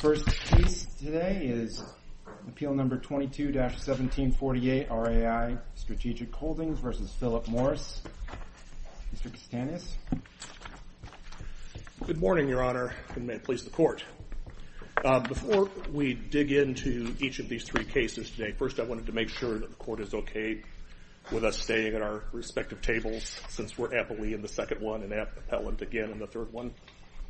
The first case today is Appeal No. 22-1748, RAI Strategic Holdings v. Philip Morris. Mr. Castanhas? Good morning, Your Honor, and may it please the Court. Before we dig into each of these three cases today, first I wanted to make sure that the Court is okay with us staying at our respective tables since we're aptly in the second one and aptly appellant again in the third one.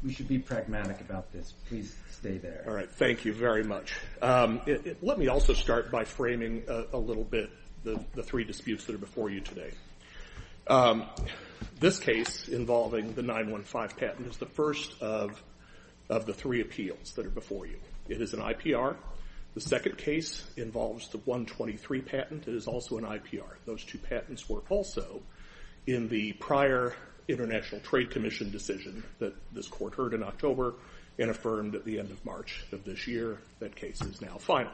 We should be pragmatic about this. Please stay there. All right. Thank you very much. Let me also start by framing a little bit the three disputes that are before you today. This case involving the 915 patent is the first of the three appeals that are before you. It is an IPR. The second case involves the 123 patent. It is also an IPR. Those two patents work also in the prior International Trade Commission decision that this Court heard in October and affirmed at the end of March of this year that case is now final.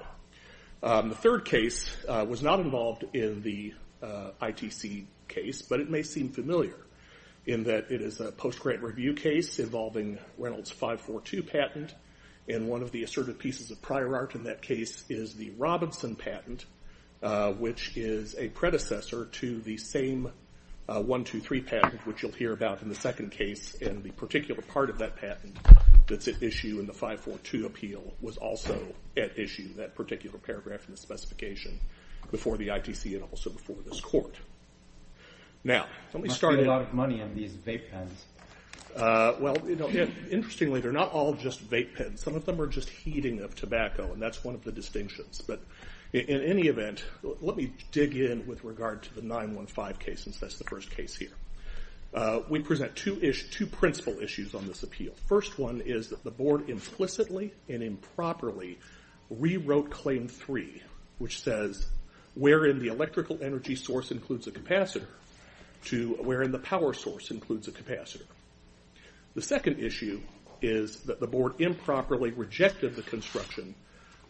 The third case was not involved in the ITC case, but it may seem familiar in that it is a post-grant review case involving Reynolds 542 patent. One of the assertive pieces of prior art in that case is the Robinson patent, which is a predecessor to the same 123 patent, which you'll hear about in the second case, and the particular part of that patent that's at issue in the 542 appeal was also at issue, that particular paragraph in the specification, before the ITC and also before this Court. Now let me start- It must be a lot of money on these vape pens. Well, interestingly, they're not all just vape pens. Some of them are just heating of tobacco, and that's one of the distinctions. But in any event, let me dig in with regard to the 915 case, since that's the first case here. We present two principle issues on this appeal. First one is that the Board implicitly and improperly rewrote Claim 3, which says wherein the electrical energy source includes a capacitor to wherein the power source includes a capacitor. The second issue is that the Board improperly rejected the construction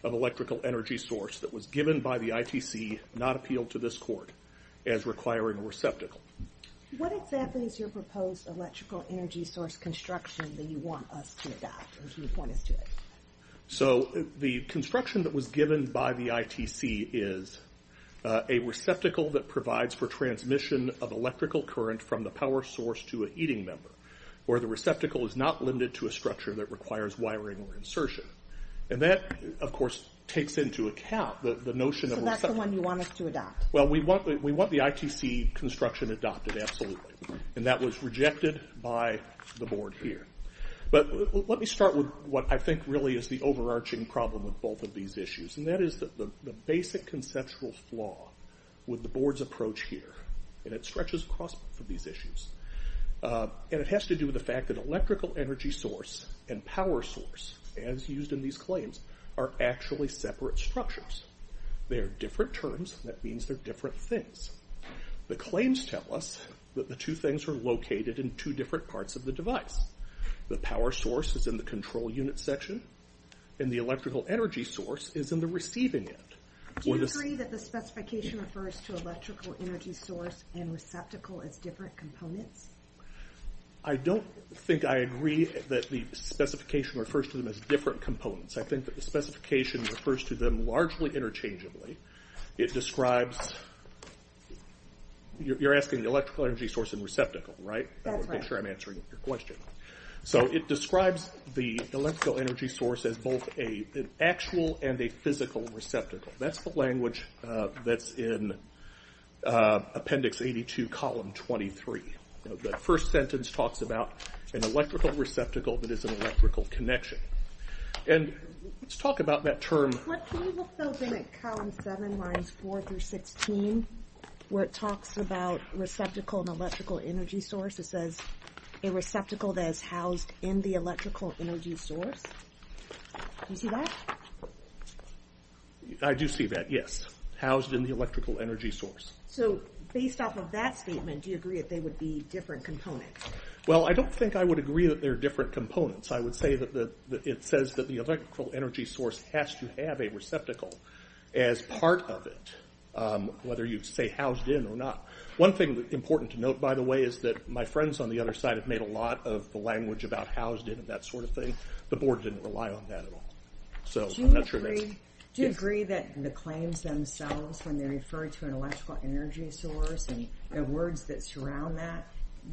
of electrical energy source that was given by the ITC, not appealed to this Court, as requiring a receptacle. What exactly is your proposed electrical energy source construction that you want us to adopt, or do you want us to adopt? So the construction that was given by the ITC is a receptacle that provides for transmission of electrical current from the power source to a heating member, where the receptacle is not limited to a structure that requires wiring or insertion. And that, of course, takes into account the notion of- So that's the one you want us to adopt? Well, we want the ITC construction adopted, absolutely. And that was rejected by the Board here. But let me start with what I think really is the overarching problem with both of these issues. And that is the basic conceptual flaw with the Board's approach here. And it stretches across both of these issues. And it has to do with the fact that electrical energy source and power source, as used in these claims, are actually separate structures. They are different terms. That means they're different things. The claims tell us that the two things are located in two different parts of the device. The power source is in the control unit section. And the electrical energy source is in the receiving end. Do you agree that the specification refers to electrical energy source and receptacle as different components? I don't think I agree that the specification refers to them as different components. I think that the specification refers to them largely interchangeably. It describes- You're asking the electrical energy source and receptacle, right? That's right. I want to make sure I'm answering your question. So it describes the electrical energy source as both an actual and a physical receptacle. That's the language that's in Appendix 82, Column 23. The first sentence talks about an electrical receptacle that is an electrical connection. And let's talk about that term- Can you look, though, in Column 7, Lines 4 through 16, where it talks about receptacle and electrical energy source? It says a receptacle that is housed in the electrical energy source. Do you see that? I do see that, yes. Housed in the electrical energy source. So based off of that statement, do you agree that they would be different components? Well, I don't think I would agree that they're different components. I would say that it says that the electrical energy source has to have a receptacle as part of it, whether you say housed in or not. One thing that's important to note, by the way, is that my friends on the other side have made a lot of the language about housed in and that sort of thing. The Board didn't rely on that at all. Do you agree that the claims themselves, when they refer to an electrical energy source and the words that surround that,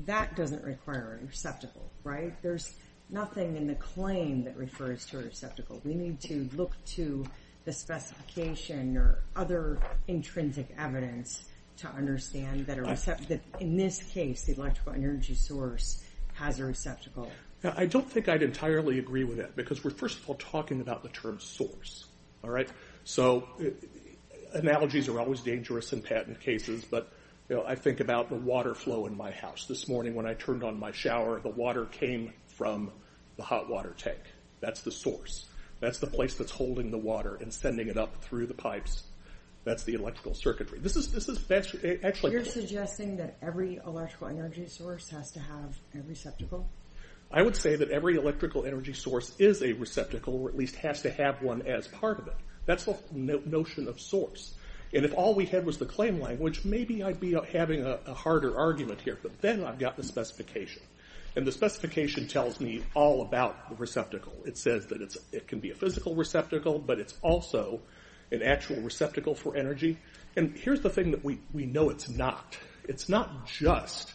that doesn't require a receptacle, right? There's nothing in the claim that refers to a receptacle. We need to look to the specification or other intrinsic evidence to understand that in this case, the electrical energy source has a receptacle. I don't think I'd entirely agree with that because we're, first of all, talking about the term source, all right? So analogies are always dangerous in patent cases, but I think about the water flow in my house. This morning when I turned on my shower, the water came from the hot water tank. That's the source. That's the place that's holding the water and sending it up through the pipes. That's the electrical circuitry. This is actually... You're suggesting that every electrical energy source has to have a receptacle? I would say that every electrical energy source is a receptacle or at least has to have one as part of it. That's the notion of source. And if all we had was the claim language, maybe I'd be having a harder argument here, but then I've got the specification. And the specification tells me all about the receptacle. It says that it can be a physical receptacle, but it's also an actual receptacle for energy. And here's the thing that we know it's not. It's not just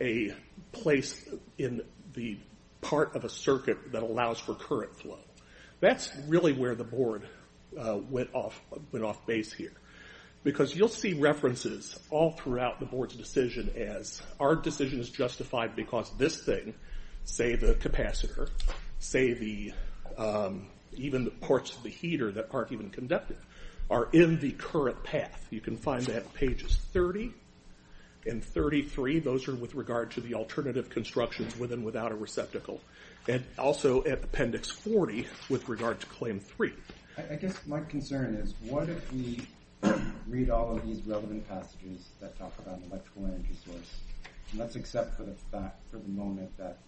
a place in the part of a circuit that allows for current flow. That's really where the board went off base here because you'll see references all throughout the board's decision as, our decision is justified because this thing, say the capacitor, say even the parts of the heater that aren't even conducted, are in the current path. You can find that pages 30 and 33. Those are with regard to the alternative constructions with and without a receptacle. And also at Appendix 40 with regard to Claim 3. I guess my concern is what if we read all of these relevant passages that talk about an electrical energy source, and let's accept for the moment that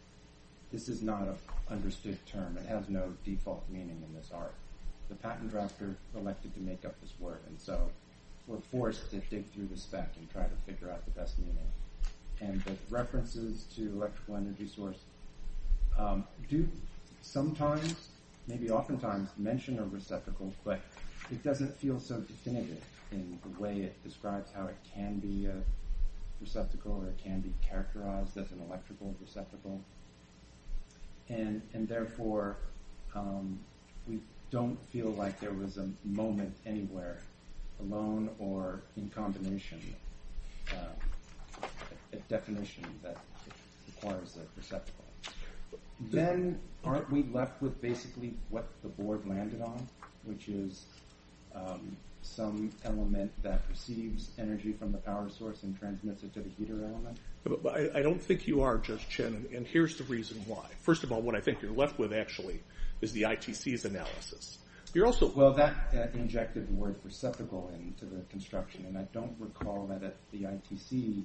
this is not an understood term, it has no default meaning in this art. The patent drafter elected to make up this word. And so we're forced to dig through the spec and try to figure out the best meaning. And the references to electrical energy source do sometimes, maybe oftentimes, mention a receptacle, but it doesn't feel so definitive in the way it describes how it can be a receptacle or it can be characterized as an electrical receptacle. And therefore, we don't feel like there was a moment anywhere, alone or in combination, a definition that requires a receptacle. Then, aren't we left with basically what the board landed on, which is some element that receives energy from the power source and transmits it to the heater element? But I don't think you are, Judge Chen, and here's the reason why. First of all, what I think you're left with actually is the ITC's analysis. You're also... Well, that injected the word receptacle into the construction, and I don't recall that the ITC,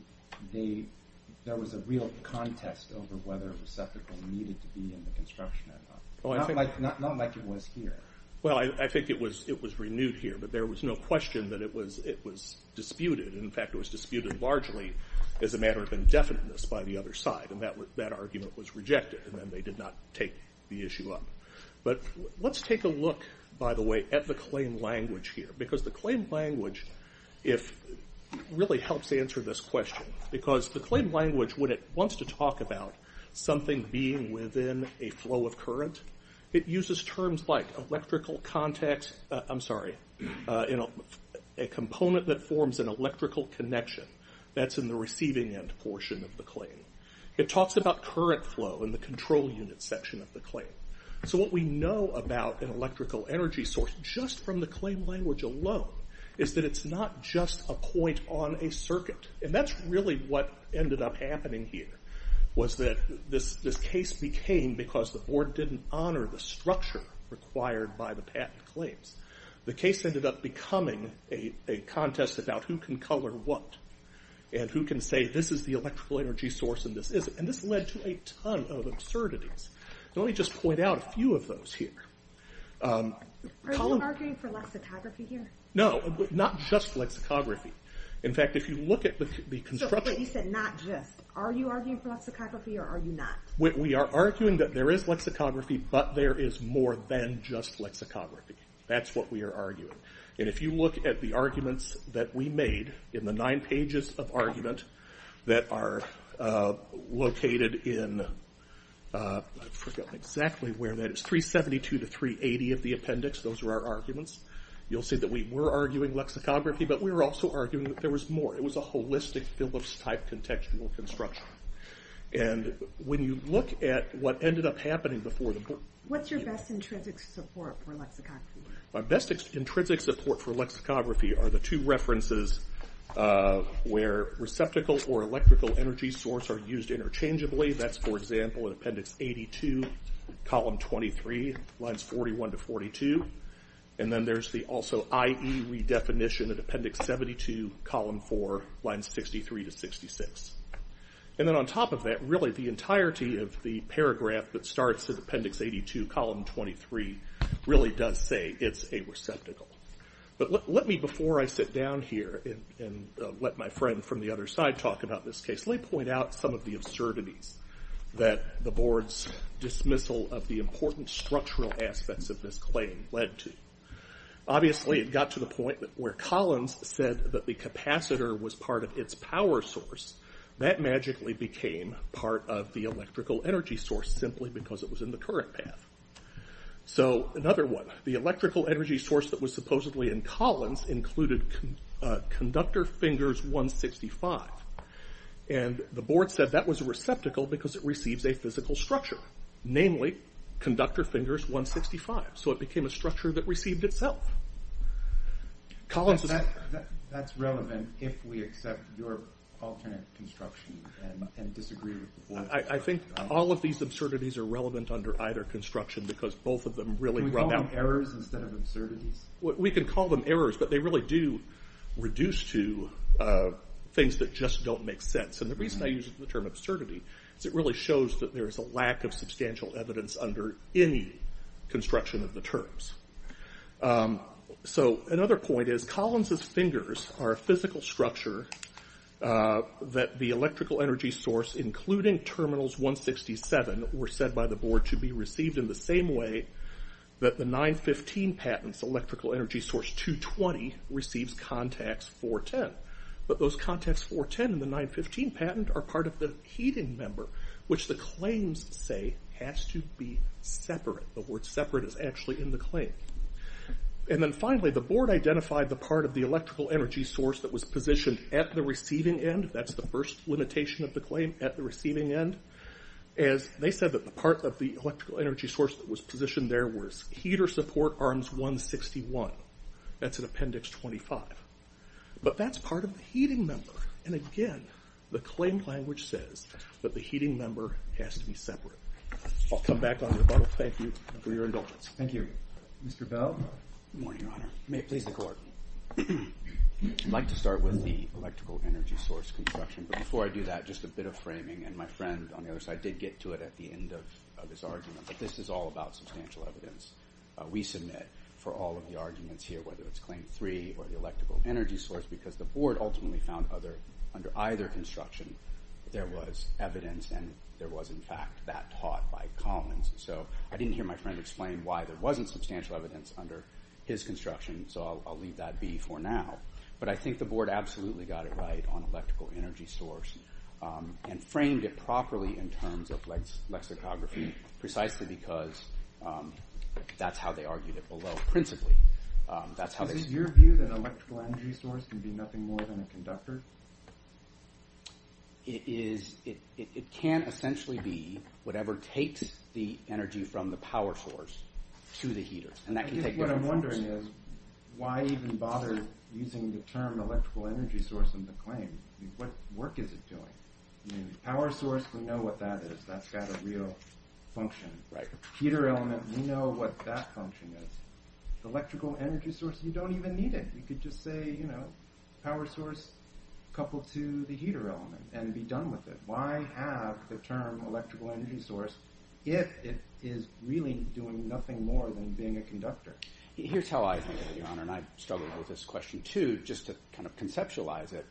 there was a real contest over whether a receptacle needed to be in the construction. Not like it was here. Well, I think it was renewed here, but there was no question that it was disputed. In fact, it was disputed largely as a matter of indefiniteness by the other side, and that argument was rejected, and then they did not take the issue up. But let's take a look, by the way, at the claim language here. The claim language really helps answer this question, because the claim language, when it wants to talk about something being within a flow of current, it uses terms like electrical contact... I'm sorry, a component that forms an electrical connection. That's in the receiving end portion of the claim. It talks about current flow in the control unit section of the claim. So what we know about an electrical energy source, just from the claim language alone, is that it's not just a point on a circuit. And that's really what ended up happening here, was that this case became, because the board didn't honor the structure required by the patent claims, the case ended up becoming a contest about who can color what, and who can say, this is the electrical energy source and this isn't. And this led to a ton of absurdities. Let me just point out a few of those here. Are you arguing for lexicography here? No, not just lexicography. In fact, if you look at the construction... You said not just. Are you arguing for lexicography or are you not? We are arguing that there is lexicography, but there is more than just lexicography. That's what we are arguing. And if you look at the arguments that we made in the nine pages of argument that are located in, I forgot exactly where that is, 372 to 380 of the appendix. Those are our arguments. You'll see that we were arguing lexicography, but we were also arguing that there was more. It was a holistic Phillips-type contextual construction. And when you look at what ended up happening before the board... What's your best intrinsic support for lexicography? My best intrinsic support for lexicography are the two references where receptacle or that's, for example, in appendix 82, column 23, lines 41 to 42. And then there's the also IE redefinition at appendix 72, column 4, lines 63 to 66. And then on top of that, really the entirety of the paragraph that starts at appendix 82, column 23, really does say it's a receptacle. But let me, before I sit down here and let my friend from the other side talk about this case, point out some of the absurdities that the board's dismissal of the important structural aspects of this claim led to. Obviously, it got to the point where Collins said that the capacitor was part of its power source. That magically became part of the electrical energy source simply because it was in the current path. So another one. The electrical energy source that was supposedly in Collins included conductor fingers 165. And the board said that was a receptacle because it receives a physical structure. Namely, conductor fingers 165. So it became a structure that received itself. Collins. That's relevant if we accept your alternate construction and disagree with the board. I think all of these absurdities are relevant under either construction because both of them really run out. Can we call them errors instead of absurdities? We can call them errors, but they really do reduce to things that just don't make sense. And the reason I use the term absurdity is it really shows that there is a lack of substantial evidence under any construction of the terms. So another point is Collins' fingers are a physical structure that the electrical energy source, including terminals 167, were said by the board to be received in the same way that the 915 patents, electrical energy source 220, receives contacts 410. But those contacts 410 and the 915 patent are part of the heating member, which the claims say has to be separate. The word separate is actually in the claim. And then finally, the board identified the part of the electrical energy source that was positioned at the receiving end. That's the first limitation of the claim, at the receiving end. As they said, that the part of the electrical energy source that was positioned there was heater support arms 161. That's in appendix 25. But that's part of the heating member. And again, the claim language says that the heating member has to be separate. I'll come back on rebuttal. Thank you for your indulgence. Thank you. Mr. Bell? Good morning, Your Honor. May it please the court. I'd like to start with the electrical energy source construction. But before I do that, just a bit of framing. And my friend on the other side did get to it at the end of this argument. But this is all about substantial evidence. We submit for all of the arguments here, whether it's claim three or the electrical energy source, because the board ultimately found under either construction, there was evidence and there was, in fact, that taught by Collins. So I didn't hear my friend explain why there wasn't substantial evidence under his construction. So I'll leave that be for now. But I think the board absolutely got it right on electrical energy source and framed it properly in terms of lexicography, precisely because that's how they argued it below. Principally, that's how they- Is it your view that an electrical energy source can be nothing more than a conductor? It can essentially be whatever takes the energy from the power source to the heater. And that can take- What I'm wondering is, why even bother using the term electrical energy source in the claim? What work is it doing? Power source, we know what that is. That's got a real function. Heater element, we know what that function is. Electrical energy source, you don't even need it. You could just say, you know, power source coupled to the heater element and be done with it. Why have the term electrical energy source if it is really doing nothing more than being a conductor? Here's how I think of it, Your Honor, and I've struggled with this question too, just to kind of conceptualize it.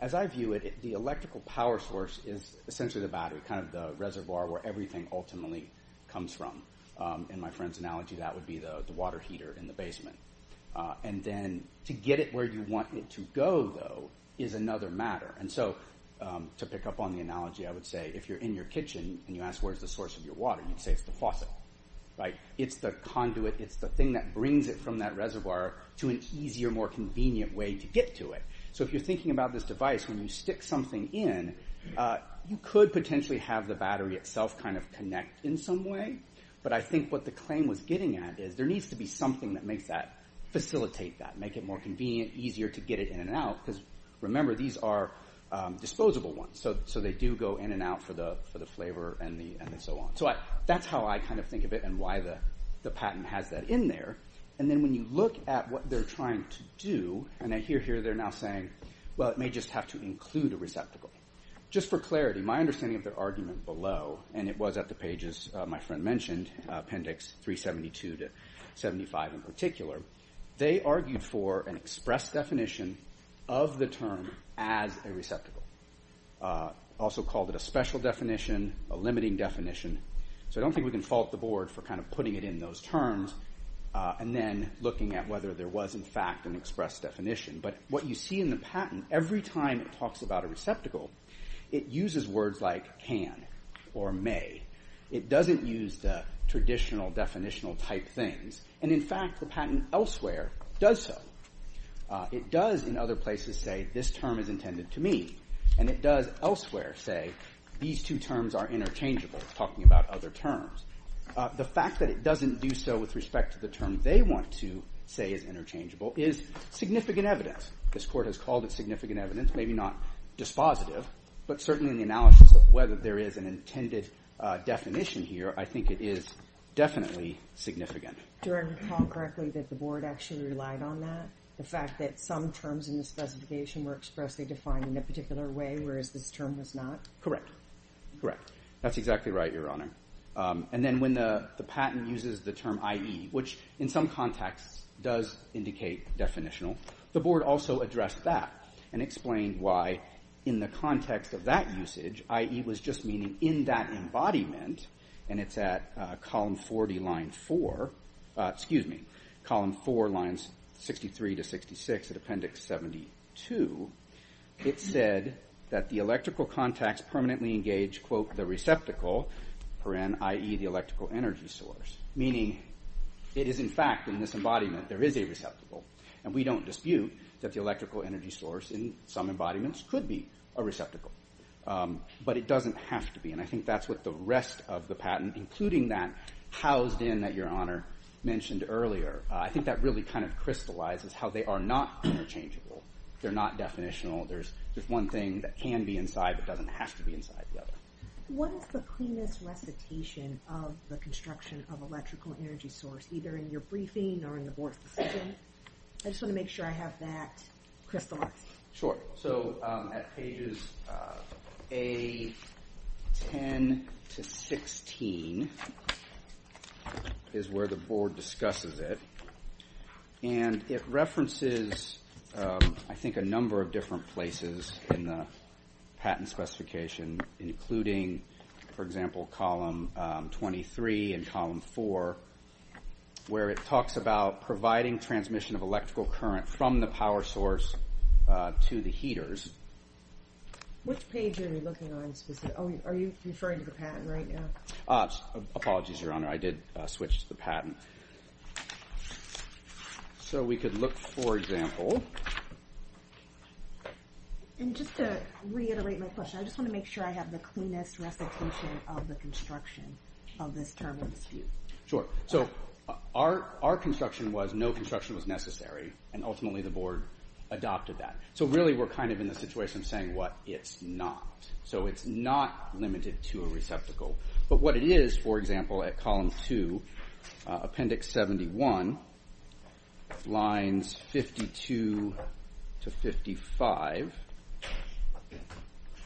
As I view it, the electrical power source is essentially the battery, kind of the reservoir where everything ultimately comes from. In my friend's analogy, that would be the water heater in the basement. And then to get it where you want it to go, though, is another matter. And so to pick up on the analogy, I would say if you're in your kitchen and you ask where's the source of your water, you'd say it's the faucet, right? It's the conduit. It's the thing that brings it from that reservoir to an easier, more convenient way to get to it. So if you're thinking about this device, when you stick something in, you could potentially have the battery itself kind of connect in some way. But I think what the claim was getting at is there needs to be something that makes that facilitate that, make it more convenient, easier to get it in and out. Because remember, these are disposable ones. So they do go in and out for the flavor and so on. That's how I kind of think of it and why the patent has that in there. And then when you look at what they're trying to do, and I hear here they're now saying, well, it may just have to include a receptacle. Just for clarity, my understanding of their argument below, and it was at the pages my friend mentioned, appendix 372 to 75 in particular, they argued for an express definition of the term as a receptacle. They also called it a special definition, a limiting definition. So I don't think we can fault the board for kind of putting it in those terms and then looking at whether there was in fact an express definition. But what you see in the patent, every time it talks about a receptacle, it uses words like can or may. It doesn't use the traditional definitional type things. And in fact, the patent elsewhere does so. It does in other places say this term is intended to me. And it does elsewhere say these two terms are interchangeable. It's talking about other terms. The fact that it doesn't do so with respect to the term they want to say is interchangeable is significant evidence. This court has called it significant evidence, maybe not dispositive, but certainly in the analysis of whether there is an intended definition here, I think it is definitely significant. Do I recall correctly that the board actually relied on that? The fact that some terms in the specification were expressly defined in a particular way, whereas this term was not? Correct. Correct. That's exactly right, Your Honor. And then when the patent uses the term IE, which in some contexts does indicate definitional, the board also addressed that and explained why in the context of that usage, IE was just In that embodiment, and it's at column 40, line 4, excuse me, column 4, lines 63 to 66 at appendix 72, it said that the electrical contacts permanently engage, quote, the receptacle, IE, the electrical energy source. Meaning it is in fact in this embodiment there is a receptacle. And we don't dispute that the electrical energy source in some embodiments could be a receptacle. But it doesn't have to be. And I think that's what the rest of the patent, including that housed in that Your Honor mentioned earlier, I think that really kind of crystallizes how they are not interchangeable. They're not definitional. There's just one thing that can be inside that doesn't have to be inside the other. What is the cleanest recitation of the construction of electrical energy source, either in your briefing or in the board's decision? I just want to make sure I have that crystallized. Sure. So at pages A10 to 16 is where the board discusses it. And it references, I think, a number of different places in the patent specification, including, for example, column 23 and column 4, where it talks about providing transmission of electrical current from the power source to the heaters. Which page are you looking on specifically? Oh, are you referring to the patent right now? Apologies, Your Honor. I did switch to the patent. So we could look, for example. And just to reiterate my question, I just want to make sure I have the cleanest recitation of the construction of this term of dispute. Sure. So our construction was no construction was necessary. And ultimately, the board adopted that. So really, we're kind of in the situation of saying, what? It's not. So it's not limited to a receptacle. But what it is, for example, at column 2, appendix 71, lines 52 to 55,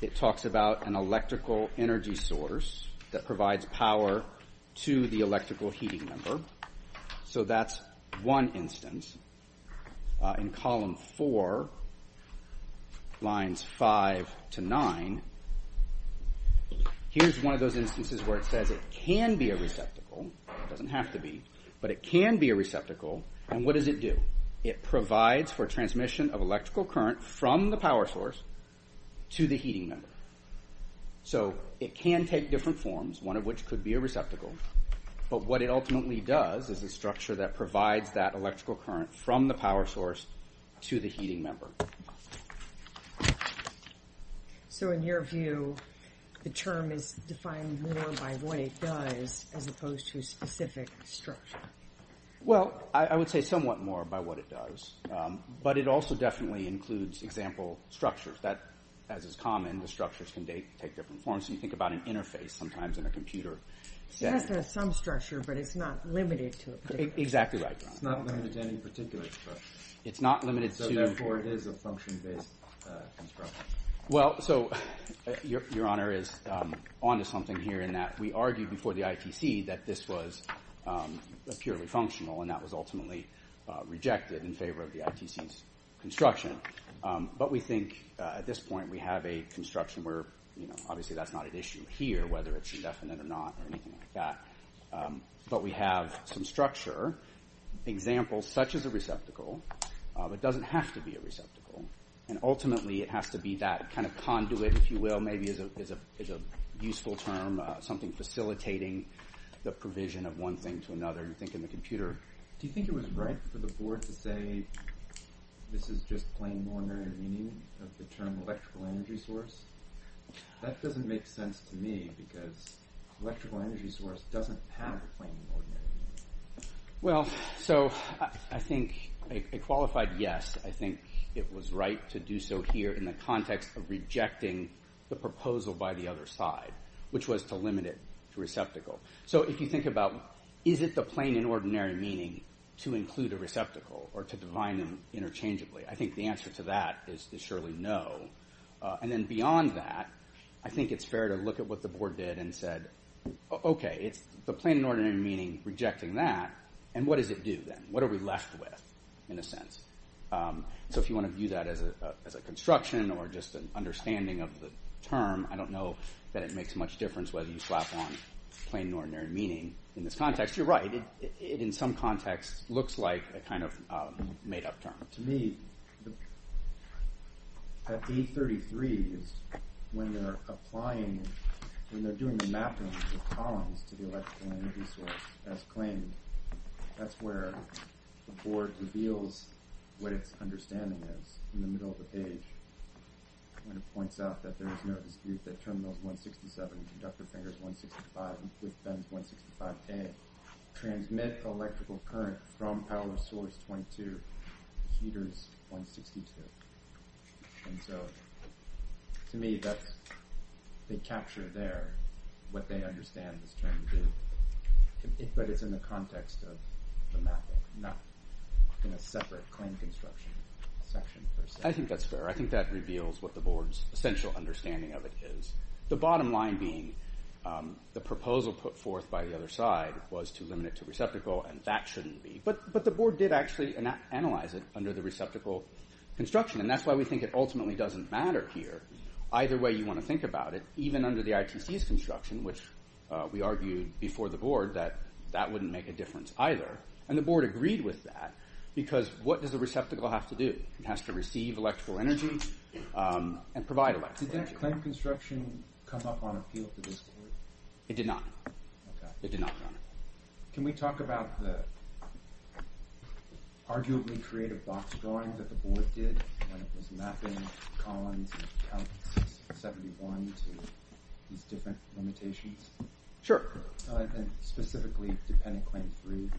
it talks about an electrical energy source that provides power to the electrical heating number. So that's one instance. In column 4, lines 5 to 9, here's one of those instances where it says it can be a receptacle. It doesn't have to be. But it can be a receptacle. And what does it do? It provides for transmission of electrical current from the power source to the heating number. So it can take different forms, one of which could be a receptacle. But what it ultimately does is a structure that provides that electrical current from the power source to the heating number. So in your view, the term is defined more by what it does, as opposed to a specific structure. Well, I would say somewhat more by what it does. But it also definitely includes example structures. That, as is common, the structures can take different forms. So you think about an interface sometimes in a computer. It says there's some structure, but it's not limited to a particular structure. Exactly right, Your Honor. It's not limited to any particular structure. It's not limited to— So therefore, it is a function-based construction. Well, so Your Honor is on to something here in that we argued before the ITC that this was purely functional. And that was ultimately rejected in favor of the ITC's construction. But we think at this point, we have a construction where, obviously, that's not an issue here, whether it's indefinite or not or anything like that. But we have some structure, examples such as a receptacle. It doesn't have to be a receptacle. And ultimately, it has to be that kind of conduit, if you will, maybe is a useful term, something facilitating the provision of one thing to another. You think in the computer— For the board to say this is just plain and ordinary meaning of the term electrical energy source, that doesn't make sense to me because electrical energy source doesn't have a plain and ordinary meaning. Well, so I think a qualified yes. I think it was right to do so here in the context of rejecting the proposal by the other side, which was to limit it to receptacle. So if you think about, is it the plain and ordinary meaning to include a receptacle or to define them interchangeably? I think the answer to that is surely no. And then beyond that, I think it's fair to look at what the board did and said, OK, it's the plain and ordinary meaning rejecting that. And what does it do then? What are we left with, in a sense? So if you want to view that as a construction or just an understanding of the term, I don't know that it makes much difference whether you slap on plain and ordinary meaning in this context. You're right. It, in some context, looks like a kind of made-up term. To me, at page 33 is when they're applying, when they're doing the mapping of columns to the electrical energy source as claimed. That's where the board reveals what its understanding is, in the middle of the page, when it points out that there is no dispute that terminals 167, conductor fingers 165, and fifth bends 165A transmit electrical current from power source 22, heaters 162. And so, to me, that's, they capture there what they understand this term to do. But it's in the context of the mapping, not in a separate claim construction section, per se. I think that's fair. That reveals what the board's essential understanding of it is. The bottom line being, the proposal put forth by the other side was to limit it to receptacle, and that shouldn't be. But the board did actually analyze it under the receptacle construction, and that's why we think it ultimately doesn't matter here. Either way you want to think about it, even under the ITC's construction, which we argued before the board that that wouldn't make a difference either. And the board agreed with that, because what does the receptacle have to do? It has to receive electrical energy and provide electrical energy. Did that claim construction come up on appeal for this board? It did not. It did not, Your Honor. Can we talk about the arguably creative box drawing that the board did when it was mapping Collins and Counties 71 to these different limitations? Sure. And specifically dependent claim three,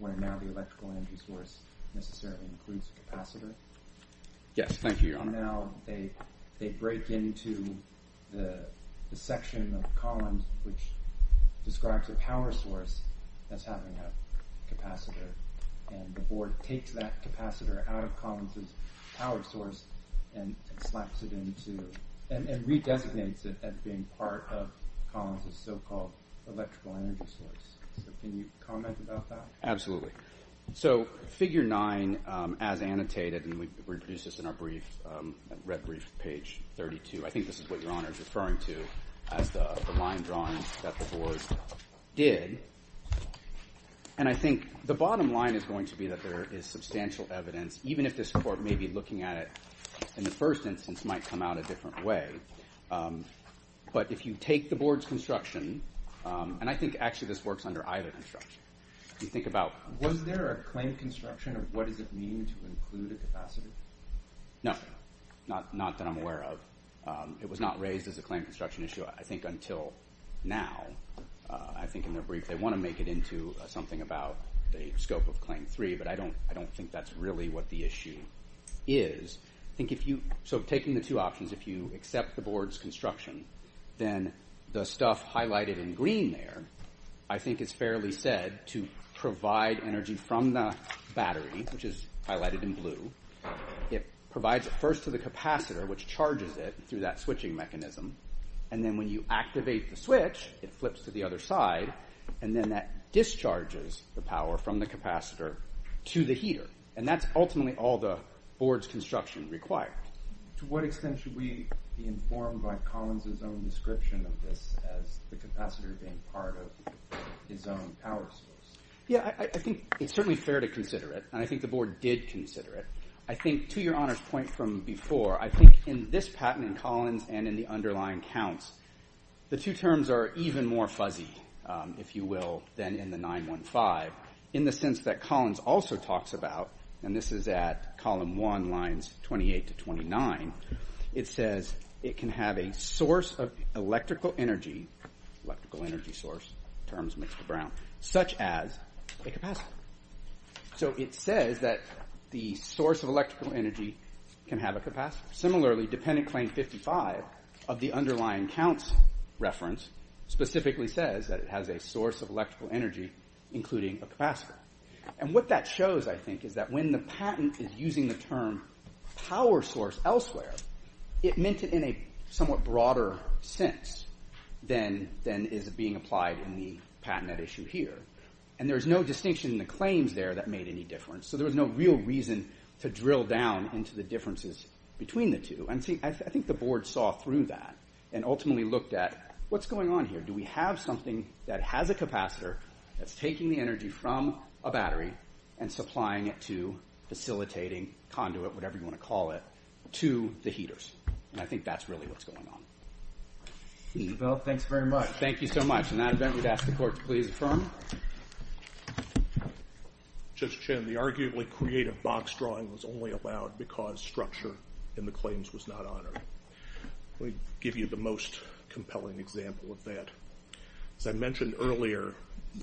where now the electrical energy source necessarily includes a capacitor. Yes, thank you, Your Honor. And now they break into the section of Collins, which describes a power source that's having a capacitor, and the board takes that capacitor out of Collins' power source and slaps it into, and redesignates it as being part of Collins' so-called electrical energy source. So can you comment about that? Absolutely. So figure nine, as annotated, and we produced this in our brief, red brief, page 32. I think this is what Your Honor is referring to as the line drawing that the board did. And I think the bottom line is going to be that there is substantial evidence, even if this court may be looking at it in the first instance, might come out a different way. But if you take the board's construction, and I think actually this works under either construction. You think about- Was there a claim construction of what does it mean to include a capacitor? No, not that I'm aware of. It was not raised as a claim construction issue, I think, until now. I think in their brief, they want to make it into something about the scope of claim three, but I don't think that's really what the issue is. I think if you, so taking the two options, if you accept the board's construction, then the stuff highlighted in green there, I think is fairly said to provide energy from the battery, which is highlighted in blue. It provides it first to the capacitor, which charges it through that switching mechanism. And then when you activate the switch, it flips to the other side, and then that discharges the power from the capacitor to the heater. And that's ultimately all the board's construction required. To what extent should we be informed by Collins' own description of this as the capacitor being part of his own power source? Yeah, I think it's certainly fair to consider it, and I think the board did consider it. I think, to your honor's point from before, I think in this patent in Collins and in the underlying counts, the two terms are even more fuzzy, if you will, than in the 9-1-5 in the sense that Collins also talks about, and this is at column 1, lines 28 to 29, it says it can have a source of electrical energy, electrical energy source, terms mixed to brown, such as a capacitor. So it says that the source of electrical energy can have a capacitor. Similarly, dependent claim 55 of the underlying counts reference specifically says that it including a capacitor. And what that shows, I think, is that when the patent is using the term power source elsewhere, it meant it in a somewhat broader sense than is being applied in the patent at issue here. And there's no distinction in the claims there that made any difference, so there was no real reason to drill down into the differences between the two. And see, I think the board saw through that and ultimately looked at what's going on here. Do we have something that has a capacitor that's taking the energy from a battery and supplying it to facilitating, conduit, whatever you want to call it, to the heaters? And I think that's really what's going on. Thank you, Bill. Thanks very much. Thank you so much. In that event, we'd ask the court to please affirm. Judge Chin, the arguably creative box drawing was only allowed because structure in the claims was not honored. Let me give you the most compelling example of that. As I mentioned earlier,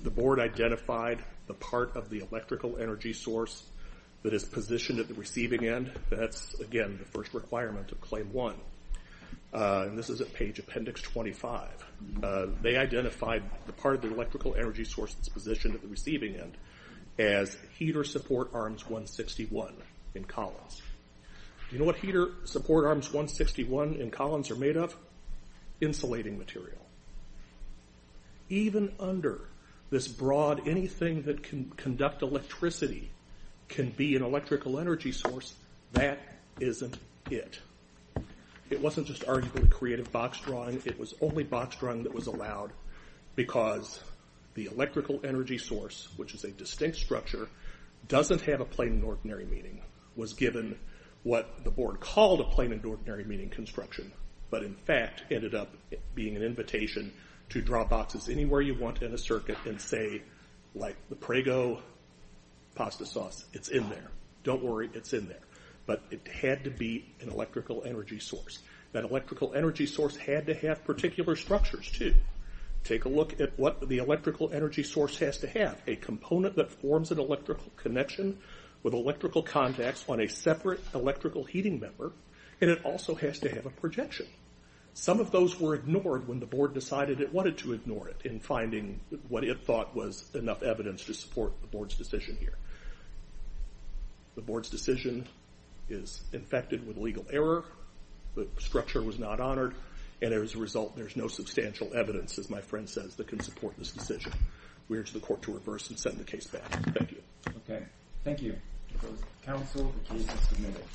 the board identified the part of the electrical energy source that is positioned at the receiving end. That's, again, the first requirement of Claim 1. And this is at page Appendix 25. They identified the part of the electrical energy source that's positioned at the receiving end as Heater Support Arms 161 in Collins. Do you know what Heater Support Arms 161 in Collins are made of? Insulating material. Even under this broad, anything that can conduct electricity can be an electrical energy source, that isn't it. It wasn't just arguably creative box drawing. It was only box drawing that was allowed because the electrical energy source, which is a what the board called a plain and ordinary meaning construction, but in fact ended up being an invitation to draw boxes anywhere you want in a circuit and say, like the Prego pasta sauce, it's in there. Don't worry, it's in there. But it had to be an electrical energy source. That electrical energy source had to have particular structures, too. Take a look at what the electrical energy source has to have. A component that forms an electrical connection with electrical contacts on a separate electrical heating member. And it also has to have a projection. Some of those were ignored when the board decided it wanted to ignore it in finding what it thought was enough evidence to support the board's decision here. The board's decision is infected with legal error. The structure was not honored. And as a result, there's no substantial evidence, as my friend says, that can support this decision. We urge the court to reverse and send the case back. Thank you. Okay. Thank you. Counsel, the case is submitted.